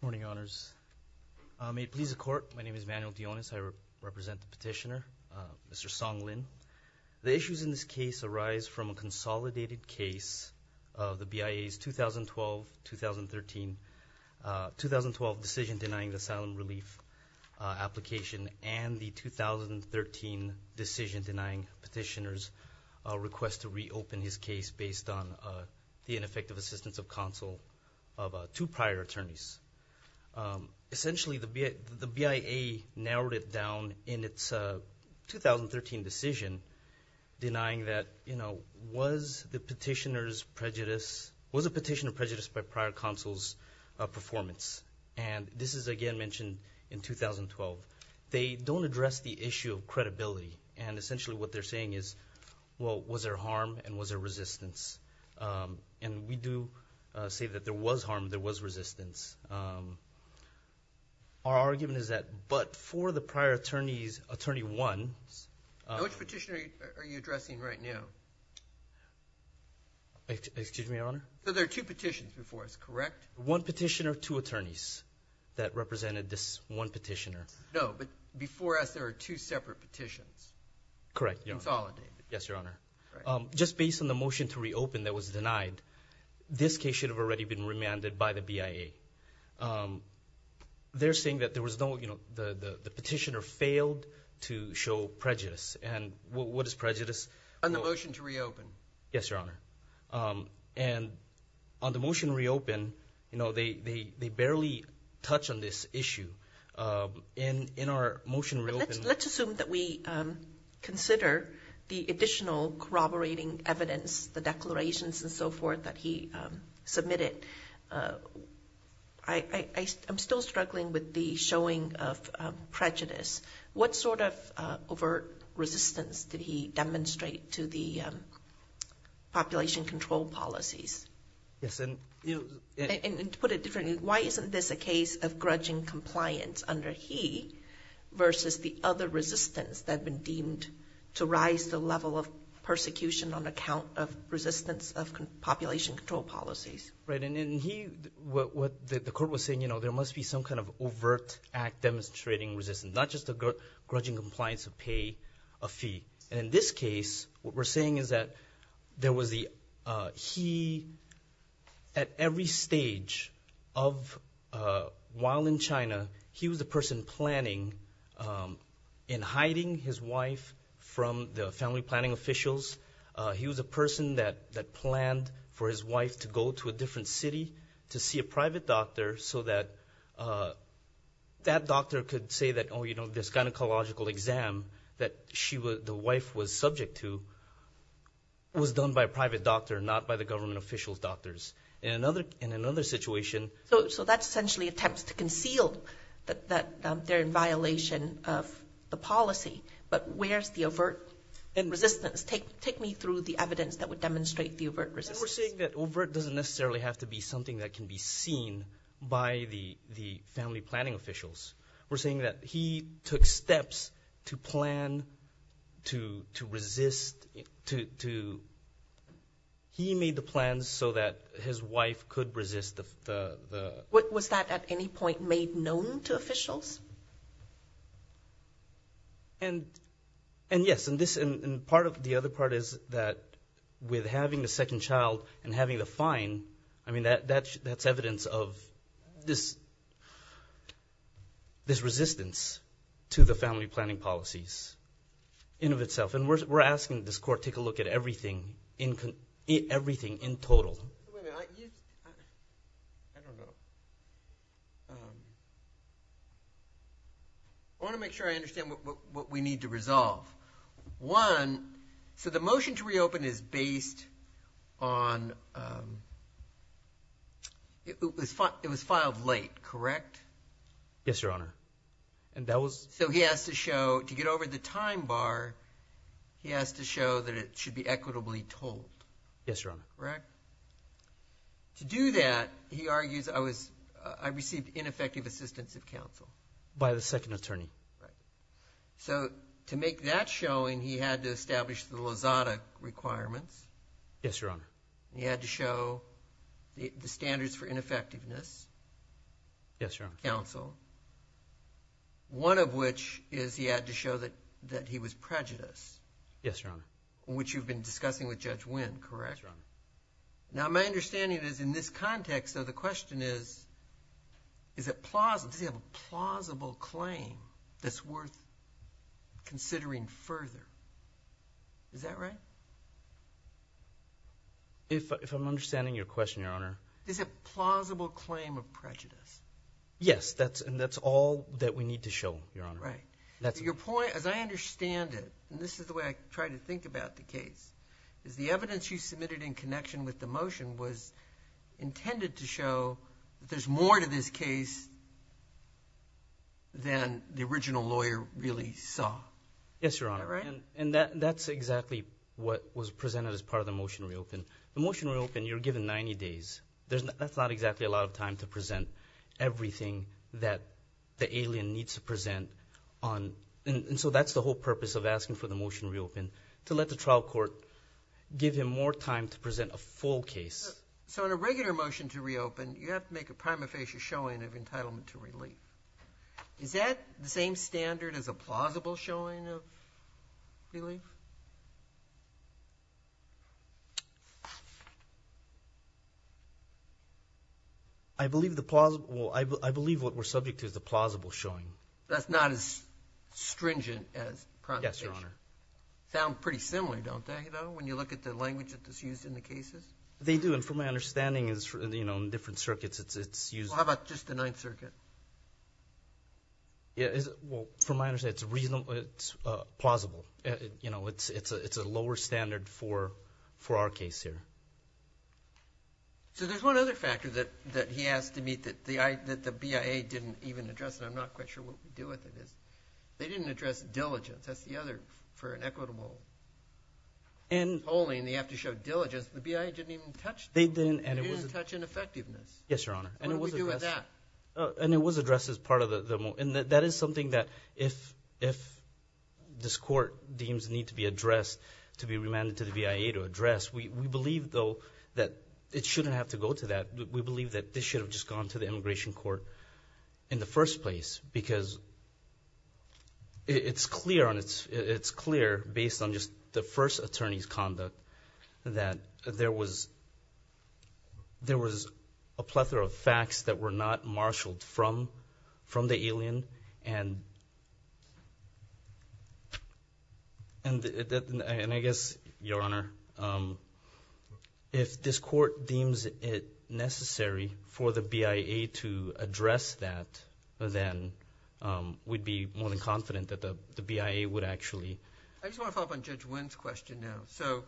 Good morning, honors. May it please the court, my name is Manuel Dionis, I represent the petitioner, Mr. Song Lin. The issues in this case arise from a consolidated case of the BIA's 2012-2013 2012 Decision Denying Asylum Relief application and the 2013 Decision Denying petitioner's request to reopen his case based on the ineffective assistance of counsel of two prior attorneys. Essentially the BIA narrowed it down in its 2013 decision denying that, you know, was the petitioner's prejudice, was the petitioner prejudiced by prior counsel's performance? And this is again mentioned in 2012. They don't address the issue of credibility and essentially what they're saying is well, was there harm and was there resistance? And we do say that there was harm, there was resistance. Our argument is that but for the prior attorneys, attorney one... Which petitioner are you addressing right now? Excuse me, your honor? There are two petitions before us, correct? One petitioner, two attorneys that represented this one petitioner. No, but before us there are two separate petitions. Correct. Consolidated. Yes, your honor. Just based on the motion to reopen that was denied, this case should have already been remanded by the BIA. They're saying that there was no, you know, the petitioner failed to show prejudice. And what is prejudice? On the motion to reopen. Yes, your honor. And on the motion to reopen, you know, they barely touch on this issue. In our motion to reopen... After the additional corroborating evidence, the declarations and so forth that he submitted, I'm still struggling with the showing of prejudice. What sort of overt resistance did he demonstrate to the population control policies? Yes, and... And to put it differently, why isn't this a case of grudging compliance under he versus the other resistance that had been deemed to rise the level of persecution on account of resistance of population control policies? Right, and he, what the court was saying, you know, there must be some kind of overt act demonstrating resistance, not just a grudging compliance of pay, a fee. And in this case, what we're saying is that there was the... At every stage of while in China, he was the person planning in hiding his wife from the family planning officials. He was a person that planned for his wife to go to a different city to see a private doctor so that that doctor could say that, oh, you know, this gynecological exam that the wife was subject to was done by a private doctor, not by the government officials' doctors. In another situation... So that's essentially attempts to conceal that they're in violation of the policy, but where's the overt resistance? Take me through the evidence that would demonstrate the overt resistance. We're saying that overt doesn't necessarily have to be something that can be seen by the family planning officials. We're saying that he took steps to plan, to resist, to... He made the plans so that his wife could resist the... Was that at any point made known to officials? And yes, and this... And part of the other part is that with having the second child and having the fine, I mean, that's evidence of this resistance to the family planning policies in of itself. And we're asking this court to take a look at everything in total. Wait a minute. I don't know. I want to make sure I understand what we need to resolve. One, so the motion to reopen is based on... It was filed late, correct? Yes, Your Honor, and that was... So he has to show, to get over the time bar, he has to show that it should be equitably told. Yes, Your Honor. Correct? To do that, he argues, I received ineffective assistance of counsel. By the second attorney. So to make that showing, he had to establish the Lozada requirements. Yes, Your Honor. He had to show the standards for ineffectiveness. Yes, Your Honor. Counsel. One of which is he had to show that he was prejudiced. Yes, Your Honor. Yes, Your Honor. Now, my understanding is in this context, though, the question is, does he have a plausible claim that's worth considering further? Is that right? If I'm understanding your question, Your Honor. Is it a plausible claim of prejudice? Yes, and that's all that we need to show, Your Honor. Right. Your point, as I understand it, and this is the way I try to think about the case, is the evidence you submitted in connection with the motion was intended to show that there's more to this case than the original lawyer really saw. Yes, Your Honor. Is that right? That's exactly what was presented as part of the motion to reopen. The motion to reopen, you're given 90 days. That's not exactly a lot of time to present everything that the alien needs to present. And so that's the whole purpose of asking for the motion to reopen, to let the trial court give him more time to present a full case. So in a regular motion to reopen, you have to make a prima facie showing of entitlement to relief. Is that the same standard as a plausible showing of relief? I believe what we're subject to is the plausible showing. That's not as stringent as prosecution. Yes, Your Honor. Sound pretty similar, don't they, though, when you look at the language that's used in the cases? They do, and from my understanding, in different circuits it's used. How about just the Ninth Circuit? Well, from my understanding, it's plausible. It's a lower standard for our case here. So there's one other factor that he asked to meet that the BIA didn't even address, and I'm not quite sure what we do with it. They didn't address diligence. That's the other for an equitable polling. They have to show diligence. The BIA didn't even touch that. They didn't touch ineffectiveness. Yes, Your Honor. What do we do with that? And it was addressed as part of the motion. And that is something that if this court deems it needs to be addressed, to be remanded to the BIA to address, we believe, though, that it shouldn't have to go to that. We believe that this should have just gone to the immigration court in the first place because it's clear based on just the first attorney's conduct that there was a plethora of facts that were not marshaled from the alien. And I guess, Your Honor, if this court deems it necessary for the BIA to address that, then we'd be more than confident that the BIA would actually. I just want to follow up on Judge Wynn's question now. So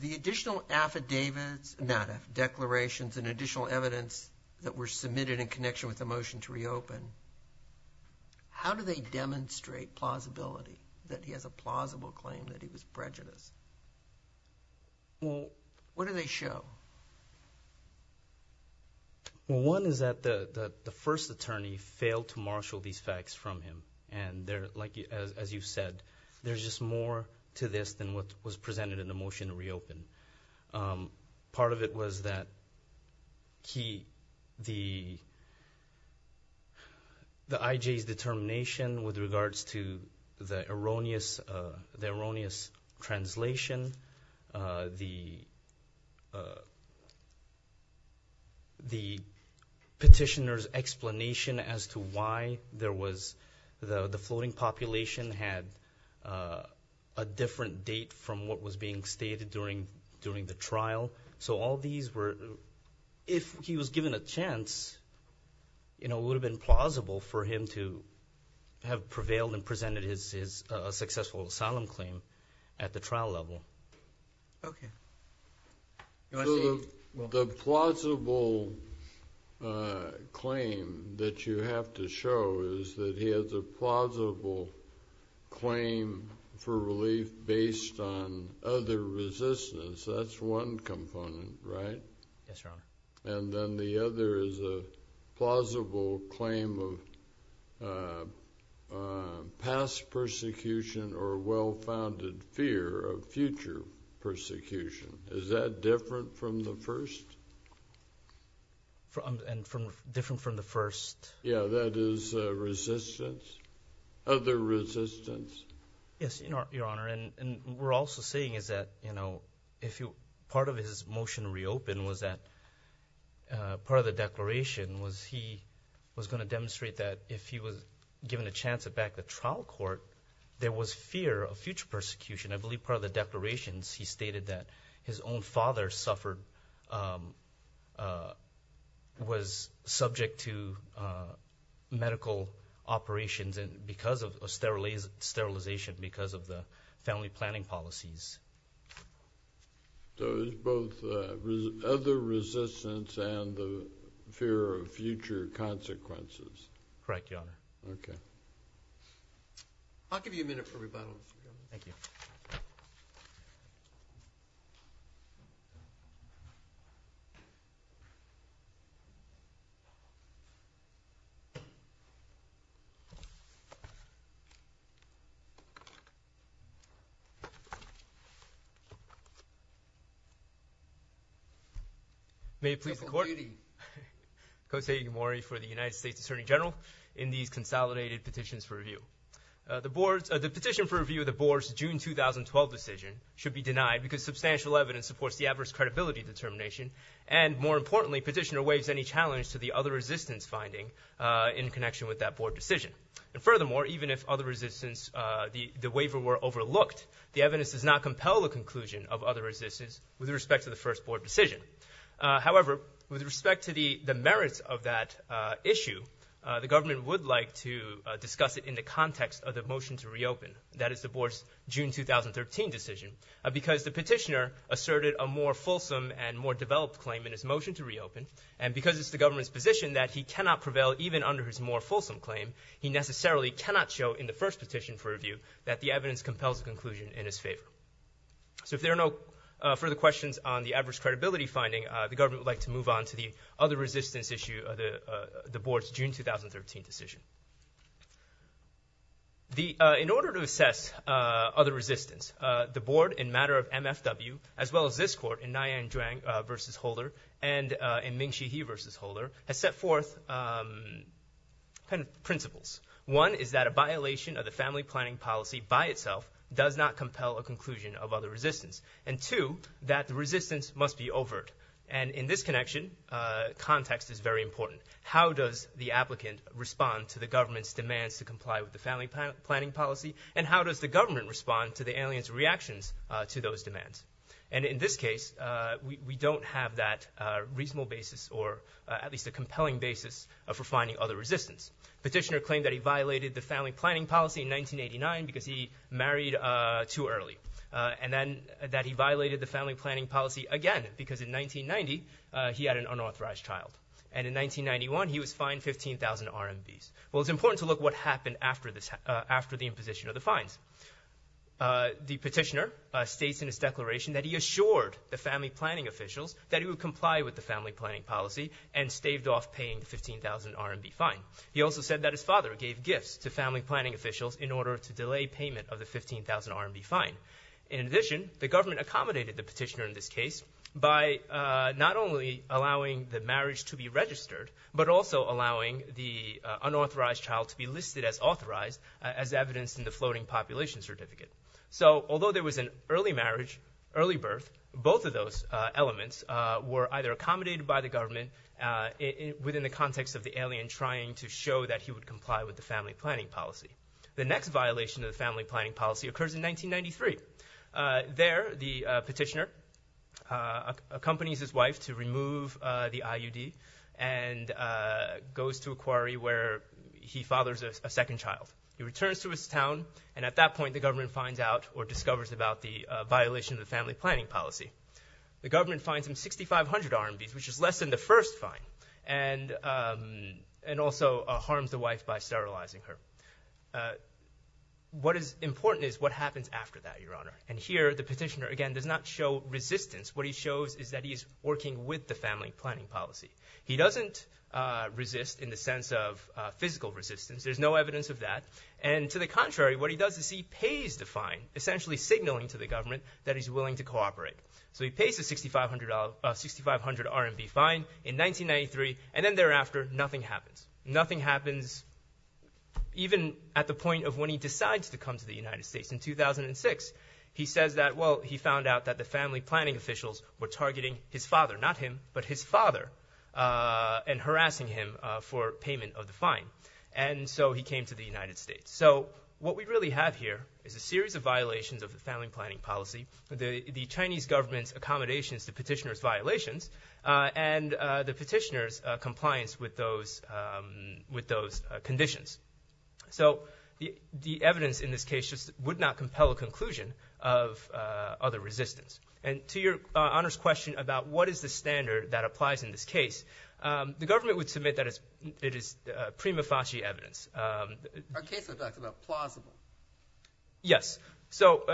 the additional affidavits, not affidavits, but declarations and additional evidence that were submitted in connection with the motion to reopen, how do they demonstrate plausibility that he has a plausible claim that he was prejudiced? What do they show? Well, one is that the first attorney failed to marshal these facts from him. And as you said, there's just more to this than what was presented in the motion to reopen. Part of it was that the IJ's determination with regards to the erroneous translation, the petitioner's explanation as to why the floating population had a different date from what was being stated during the trial. So all these were, if he was given a chance, it would have been plausible for him to have prevailed and presented his successful asylum claim at the trial level. Okay. The plausible claim that you have to show is that he has a plausible claim for relief based on other resistance. That's one component, right? Yes, Your Honor. And then the other is a plausible claim of past persecution or well-founded fear of future persecution. Is that different from the first? Different from the first? Yeah, that is resistance, other resistance. Yes, Your Honor. And we're also saying is that part of his motion to reopen was that part of the declaration was he was going to demonstrate that if he was given a chance at back at the trial court, there was fear of future persecution. I believe part of the declarations he stated that his own father suffered was subject to medical operations because of sterilization, because of the family planning policies. So it's both other resistance and the fear of future consequences. Correct, Your Honor. Okay. I'll give you a minute for rebuttal. Thank you. May it please the Court. Your computing. Kosei Igamori for the United States Attorney General in these consolidated petitions for review. The petition for review of the Board's June 2012 decision should be denied because substantial evidence supports the adverse credibility determination. And more importantly, petitioner waives any challenge to the other resistance finding in connection with that Board decision. And furthermore, even if the waiver were overlooked, the evidence does not compel the conclusion of other resistance with respect to the first Board decision. However, with respect to the merits of that issue, the government would like to discuss it in the context of the motion to reopen, that is the Board's June 2013 decision, because the petitioner asserted a more fulsome and more developed claim in his motion to reopen. And because it's the government's position that he cannot prevail even under his more fulsome claim, he necessarily cannot show in the first petition for review that the evidence compels the conclusion in his favor. So if there are no further questions on the adverse credibility finding, the government would like to move on to the other resistance issue of the Board's June 2013 decision. In order to assess other resistance, the Board, in matter of MFW, as well as this Court, in Nian Zhuang v. Holder, and in Ming Shi He v. Holder, has set forth ten principles. One is that a violation of the family planning policy by itself does not compel a conclusion of other resistance. And two, that the resistance must be overt. And in this connection, context is very important. How does the applicant respond to the government's demands to comply with the family planning policy? And how does the government respond to the alien's reactions to those demands? And in this case, we don't have that reasonable basis, or at least a compelling basis for finding other resistance. Petitioner claimed that he violated the family planning policy in 1989 because he married too early. And that he violated the family planning policy again because in 1990, he had an unauthorized child. And in 1991, he was fined 15,000 RMBs. Well, it's important to look at what happened after the imposition of the fines. The petitioner states in his declaration that he assured the family planning officials that he would comply with the family planning policy and staved off paying the 15,000 RMB fine. He also said that his father gave gifts to family planning officials in order to delay payment of the 15,000 RMB fine. In addition, the government accommodated the petitioner in this case by not only allowing the marriage to be registered, but also allowing the unauthorized child to be listed as authorized as evidenced in the floating population certificate. So although there was an early marriage, early birth, both of those elements were either accommodated by the government within the context of the alien trying to show that he would comply with the family planning policy. The next violation of the family planning policy occurs in 1993. There, the petitioner accompanies his wife to remove the IUD and goes to a quarry where he fathers a second child. He returns to his town, and at that point, the government finds out or discovers about the violation of the family planning policy. The government fines him 6,500 RMB, which is less than the first fine, and also harms the wife by sterilizing her. What is important is what happens after that, Your Honor. And here, the petitioner, again, does not show resistance. What he shows is that he is working with the family planning policy. He doesn't resist in the sense of physical resistance. There's no evidence of that. And to the contrary, what he does is he pays the fine, essentially signaling to the government that he's willing to cooperate. So he pays the 6,500 RMB fine in 1993, and then thereafter, nothing happens. Nothing happens even at the point of when he decides to come to the United States. In 2006, he says that, well, he found out that the family planning officials were targeting his father, not him, but his father, and harassing him for payment of the fine. And so he came to the United States. So what we really have here is a series of violations of the family planning policy, the Chinese government's accommodations to petitioner's violations, and the petitioner's compliance with those conditions. So the evidence in this case just would not compel a conclusion of other resistance. And to Your Honor's question about what is the standard that applies in this case, the government would submit that it is prima facie evidence. Are case effects about plausible? Yes. So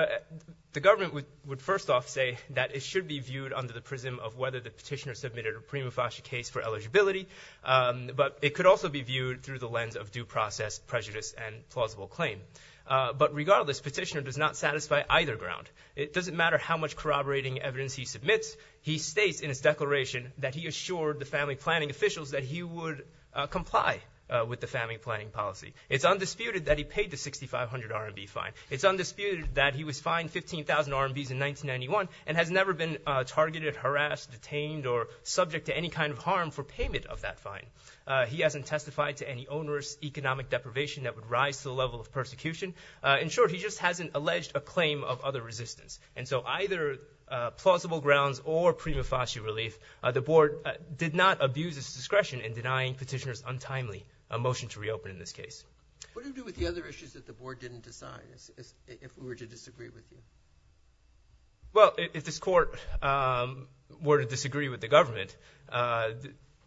the government would first off say that it should be viewed under the prism of whether the petitioner submitted a prima facie case for eligibility, but it could also be viewed through the lens of due process, prejudice, and plausible claim. But regardless, petitioner does not satisfy either ground. It doesn't matter how much corroborating evidence he submits. He states in his declaration that he assured the family planning officials that he would comply with the family planning policy. It's undisputed that he paid the 6,500 RMB fine. It's undisputed that he was fined 15,000 RMBs in 1991 and has never been targeted, harassed, detained, or subject to any kind of harm for payment of that fine. He hasn't testified to any onerous economic deprivation that would rise to the level of persecution. In short, he just hasn't alleged a claim of other resistance. And so either plausible grounds or prima facie relief, the board did not abuse its discretion in denying petitioners untimely a motion to reopen in this case. What do you do with the other issues that the board didn't decide if we were to disagree with you? Well, if this court were to disagree with the government,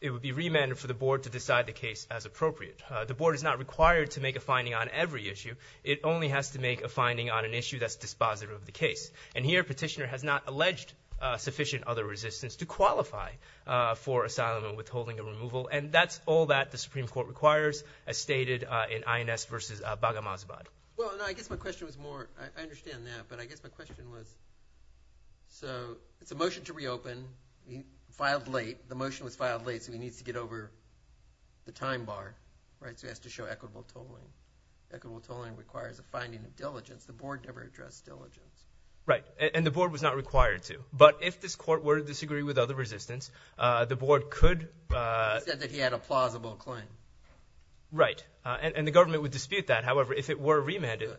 it would be remanded for the board to decide the case as appropriate. The board is not required to make a finding on every issue. It only has to make a finding on an issue that's dispositive of the case. And here a petitioner has not alleged sufficient other resistance to qualify for asylum and withholding and removal. And that's all that the Supreme Court requires, as stated in INS versus Baghamazabad. Well, I guess my question was more – I understand that, but I guess my question was – so it's a motion to reopen. He filed late. The motion was filed late, so he needs to get over the time bar, right, so he has to show equitable tolling. Equitable tolling requires a finding of diligence. The board never addressed diligence. Right, and the board was not required to. But if this court were to disagree with other resistance, the board could – He said that he had a plausible claim. Right, and the government would dispute that. However, if it were remanded,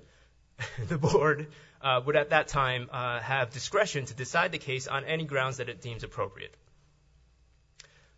the board would at that time have discretion to decide the case on any grounds that it deems appropriate.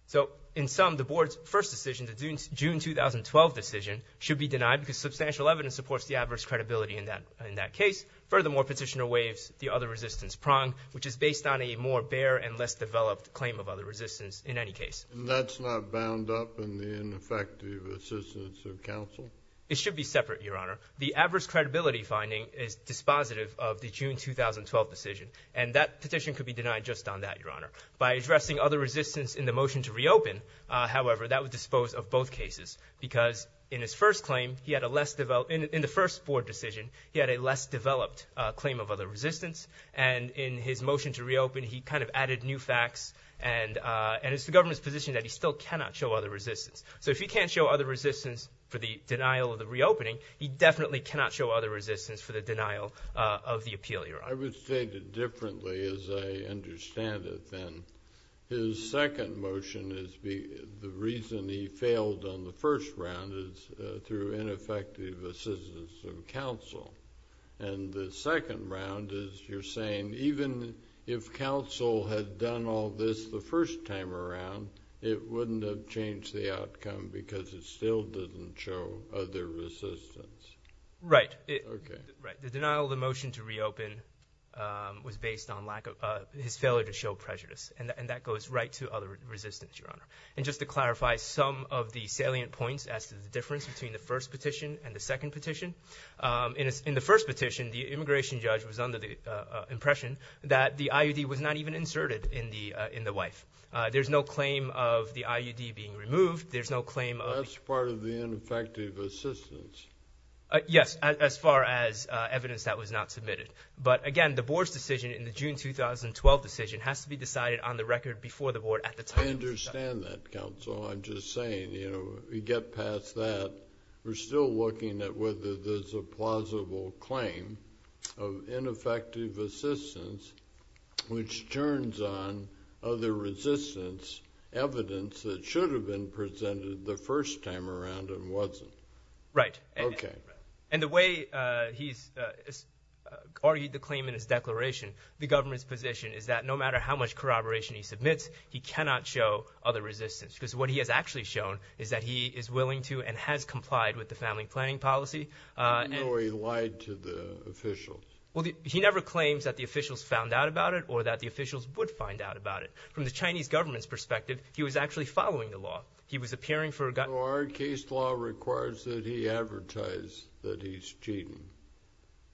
So in sum, the board's first decision, the June 2012 decision, should be denied because substantial evidence supports the adverse credibility in that case. Furthermore, Petitioner waives the other resistance prong, which is based on a more bare and less developed claim of other resistance in any case. And that's not bound up in the ineffective assistance of counsel? It should be separate, Your Honor. The adverse credibility finding is dispositive of the June 2012 decision, and that petition could be denied just on that, Your Honor. By addressing other resistance in the motion to reopen, however, that would dispose of both cases because in his first claim, he had a less developed – in the first board decision, he had a less developed claim of other resistance. And in his motion to reopen, he kind of added new facts, and it's the government's position that he still cannot show other resistance. So if he can't show other resistance for the denial of the reopening, he definitely cannot show other resistance for the denial of the appeal, Your Honor. I would state it differently as I understand it, then. His second motion is the reason he failed on the first round is through ineffective assistance of counsel. And the second round is you're saying even if counsel had done all this the first time around, it wouldn't have changed the outcome because it still didn't show other resistance. Right. Okay. Right. The denial of the motion to reopen was based on lack of – his failure to show prejudice, and that goes right to other resistance, Your Honor. And just to clarify some of the salient points as to the difference between the first petition and the second petition, in the first petition, the immigration judge was under the impression that the IUD was not even inserted in the wife. There's no claim of the IUD being removed. There's no claim of – That's part of the ineffective assistance. Yes, as far as evidence that was not submitted. But, again, the Board's decision in the June 2012 decision has to be decided on the record before the Board at the time. I understand that, counsel. I'm just saying, you know, we get past that. We're still looking at whether there's a plausible claim of ineffective assistance, which turns on other resistance evidence that should have been presented the first time around and wasn't. Right. Okay. And the way he's argued the claim in his declaration, the government's position, is that no matter how much corroboration he submits, he cannot show other resistance because what he has actually shown is that he is willing to and has complied with the family planning policy. How do you know he lied to the officials? Well, he never claims that the officials found out about it or that the officials would find out about it. From the Chinese government's perspective, he was actually following the law. So our case law requires that he advertise that he's cheating.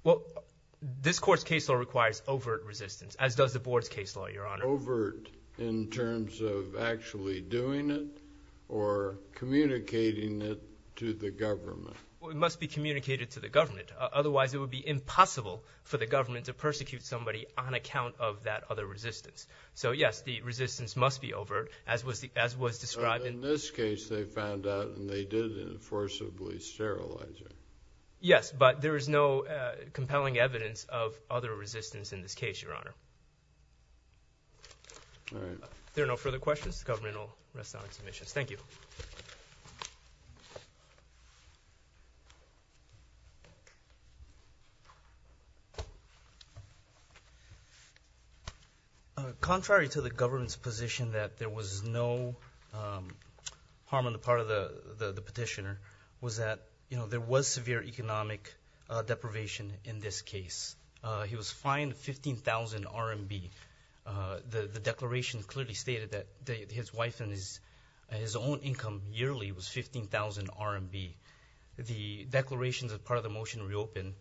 Well, this Court's case law requires overt resistance, as does the Board's case law, Your Honor. Overt in terms of actually doing it or communicating it to the government. Well, it must be communicated to the government. Otherwise, it would be impossible for the government to persecute somebody on account of that other resistance. So, yes, the resistance must be overt, as was described in the case. But in this case, they found out and they did it in forcibly sterilizing. Yes, but there is no compelling evidence of other resistance in this case, Your Honor. All right. If there are no further questions, the government will rest on its omissions. Thank you. Thank you. Contrary to the government's position that there was no harm on the part of the petitioner, was that there was severe economic deprivation in this case. He was fined 15,000 RMB. The declaration clearly stated that his wife and his own income yearly was 15,000 RMB. The declarations as part of the motion to reopen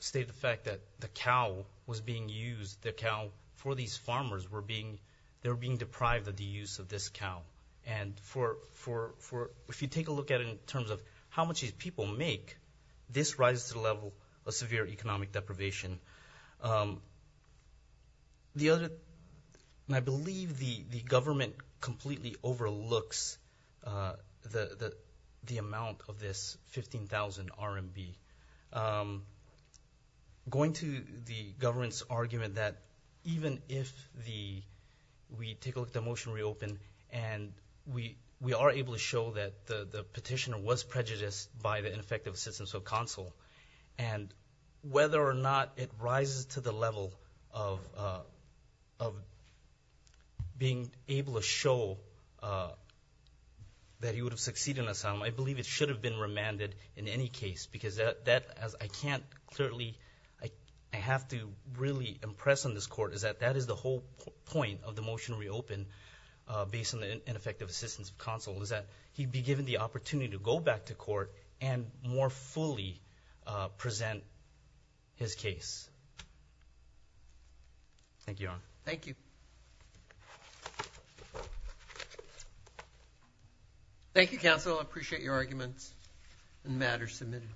state the fact that the cow was being used, the cow for these farmers were being deprived of the use of this cow. And if you take a look at it in terms of how much these people make, this rises to the level of severe economic deprivation. I believe the government completely overlooks the amount of this 15,000 RMB. Going to the government's argument that even if we take a look at the motion to reopen and we are able to show that the petitioner was prejudiced by the ineffective assistance of counsel, and whether or not it rises to the level of being able to show that he would have succeeded in asylum, I believe it should have been remanded in any case because that, as I can't clearly, I have to really impress on this court is that that is the whole point of the motion to reopen based on the ineffective assistance of counsel, is that he'd be given the opportunity to go back to court and more fully present his case. Thank you, Your Honor. Thank you. Thank you, counsel. I appreciate your arguments and matters submitted.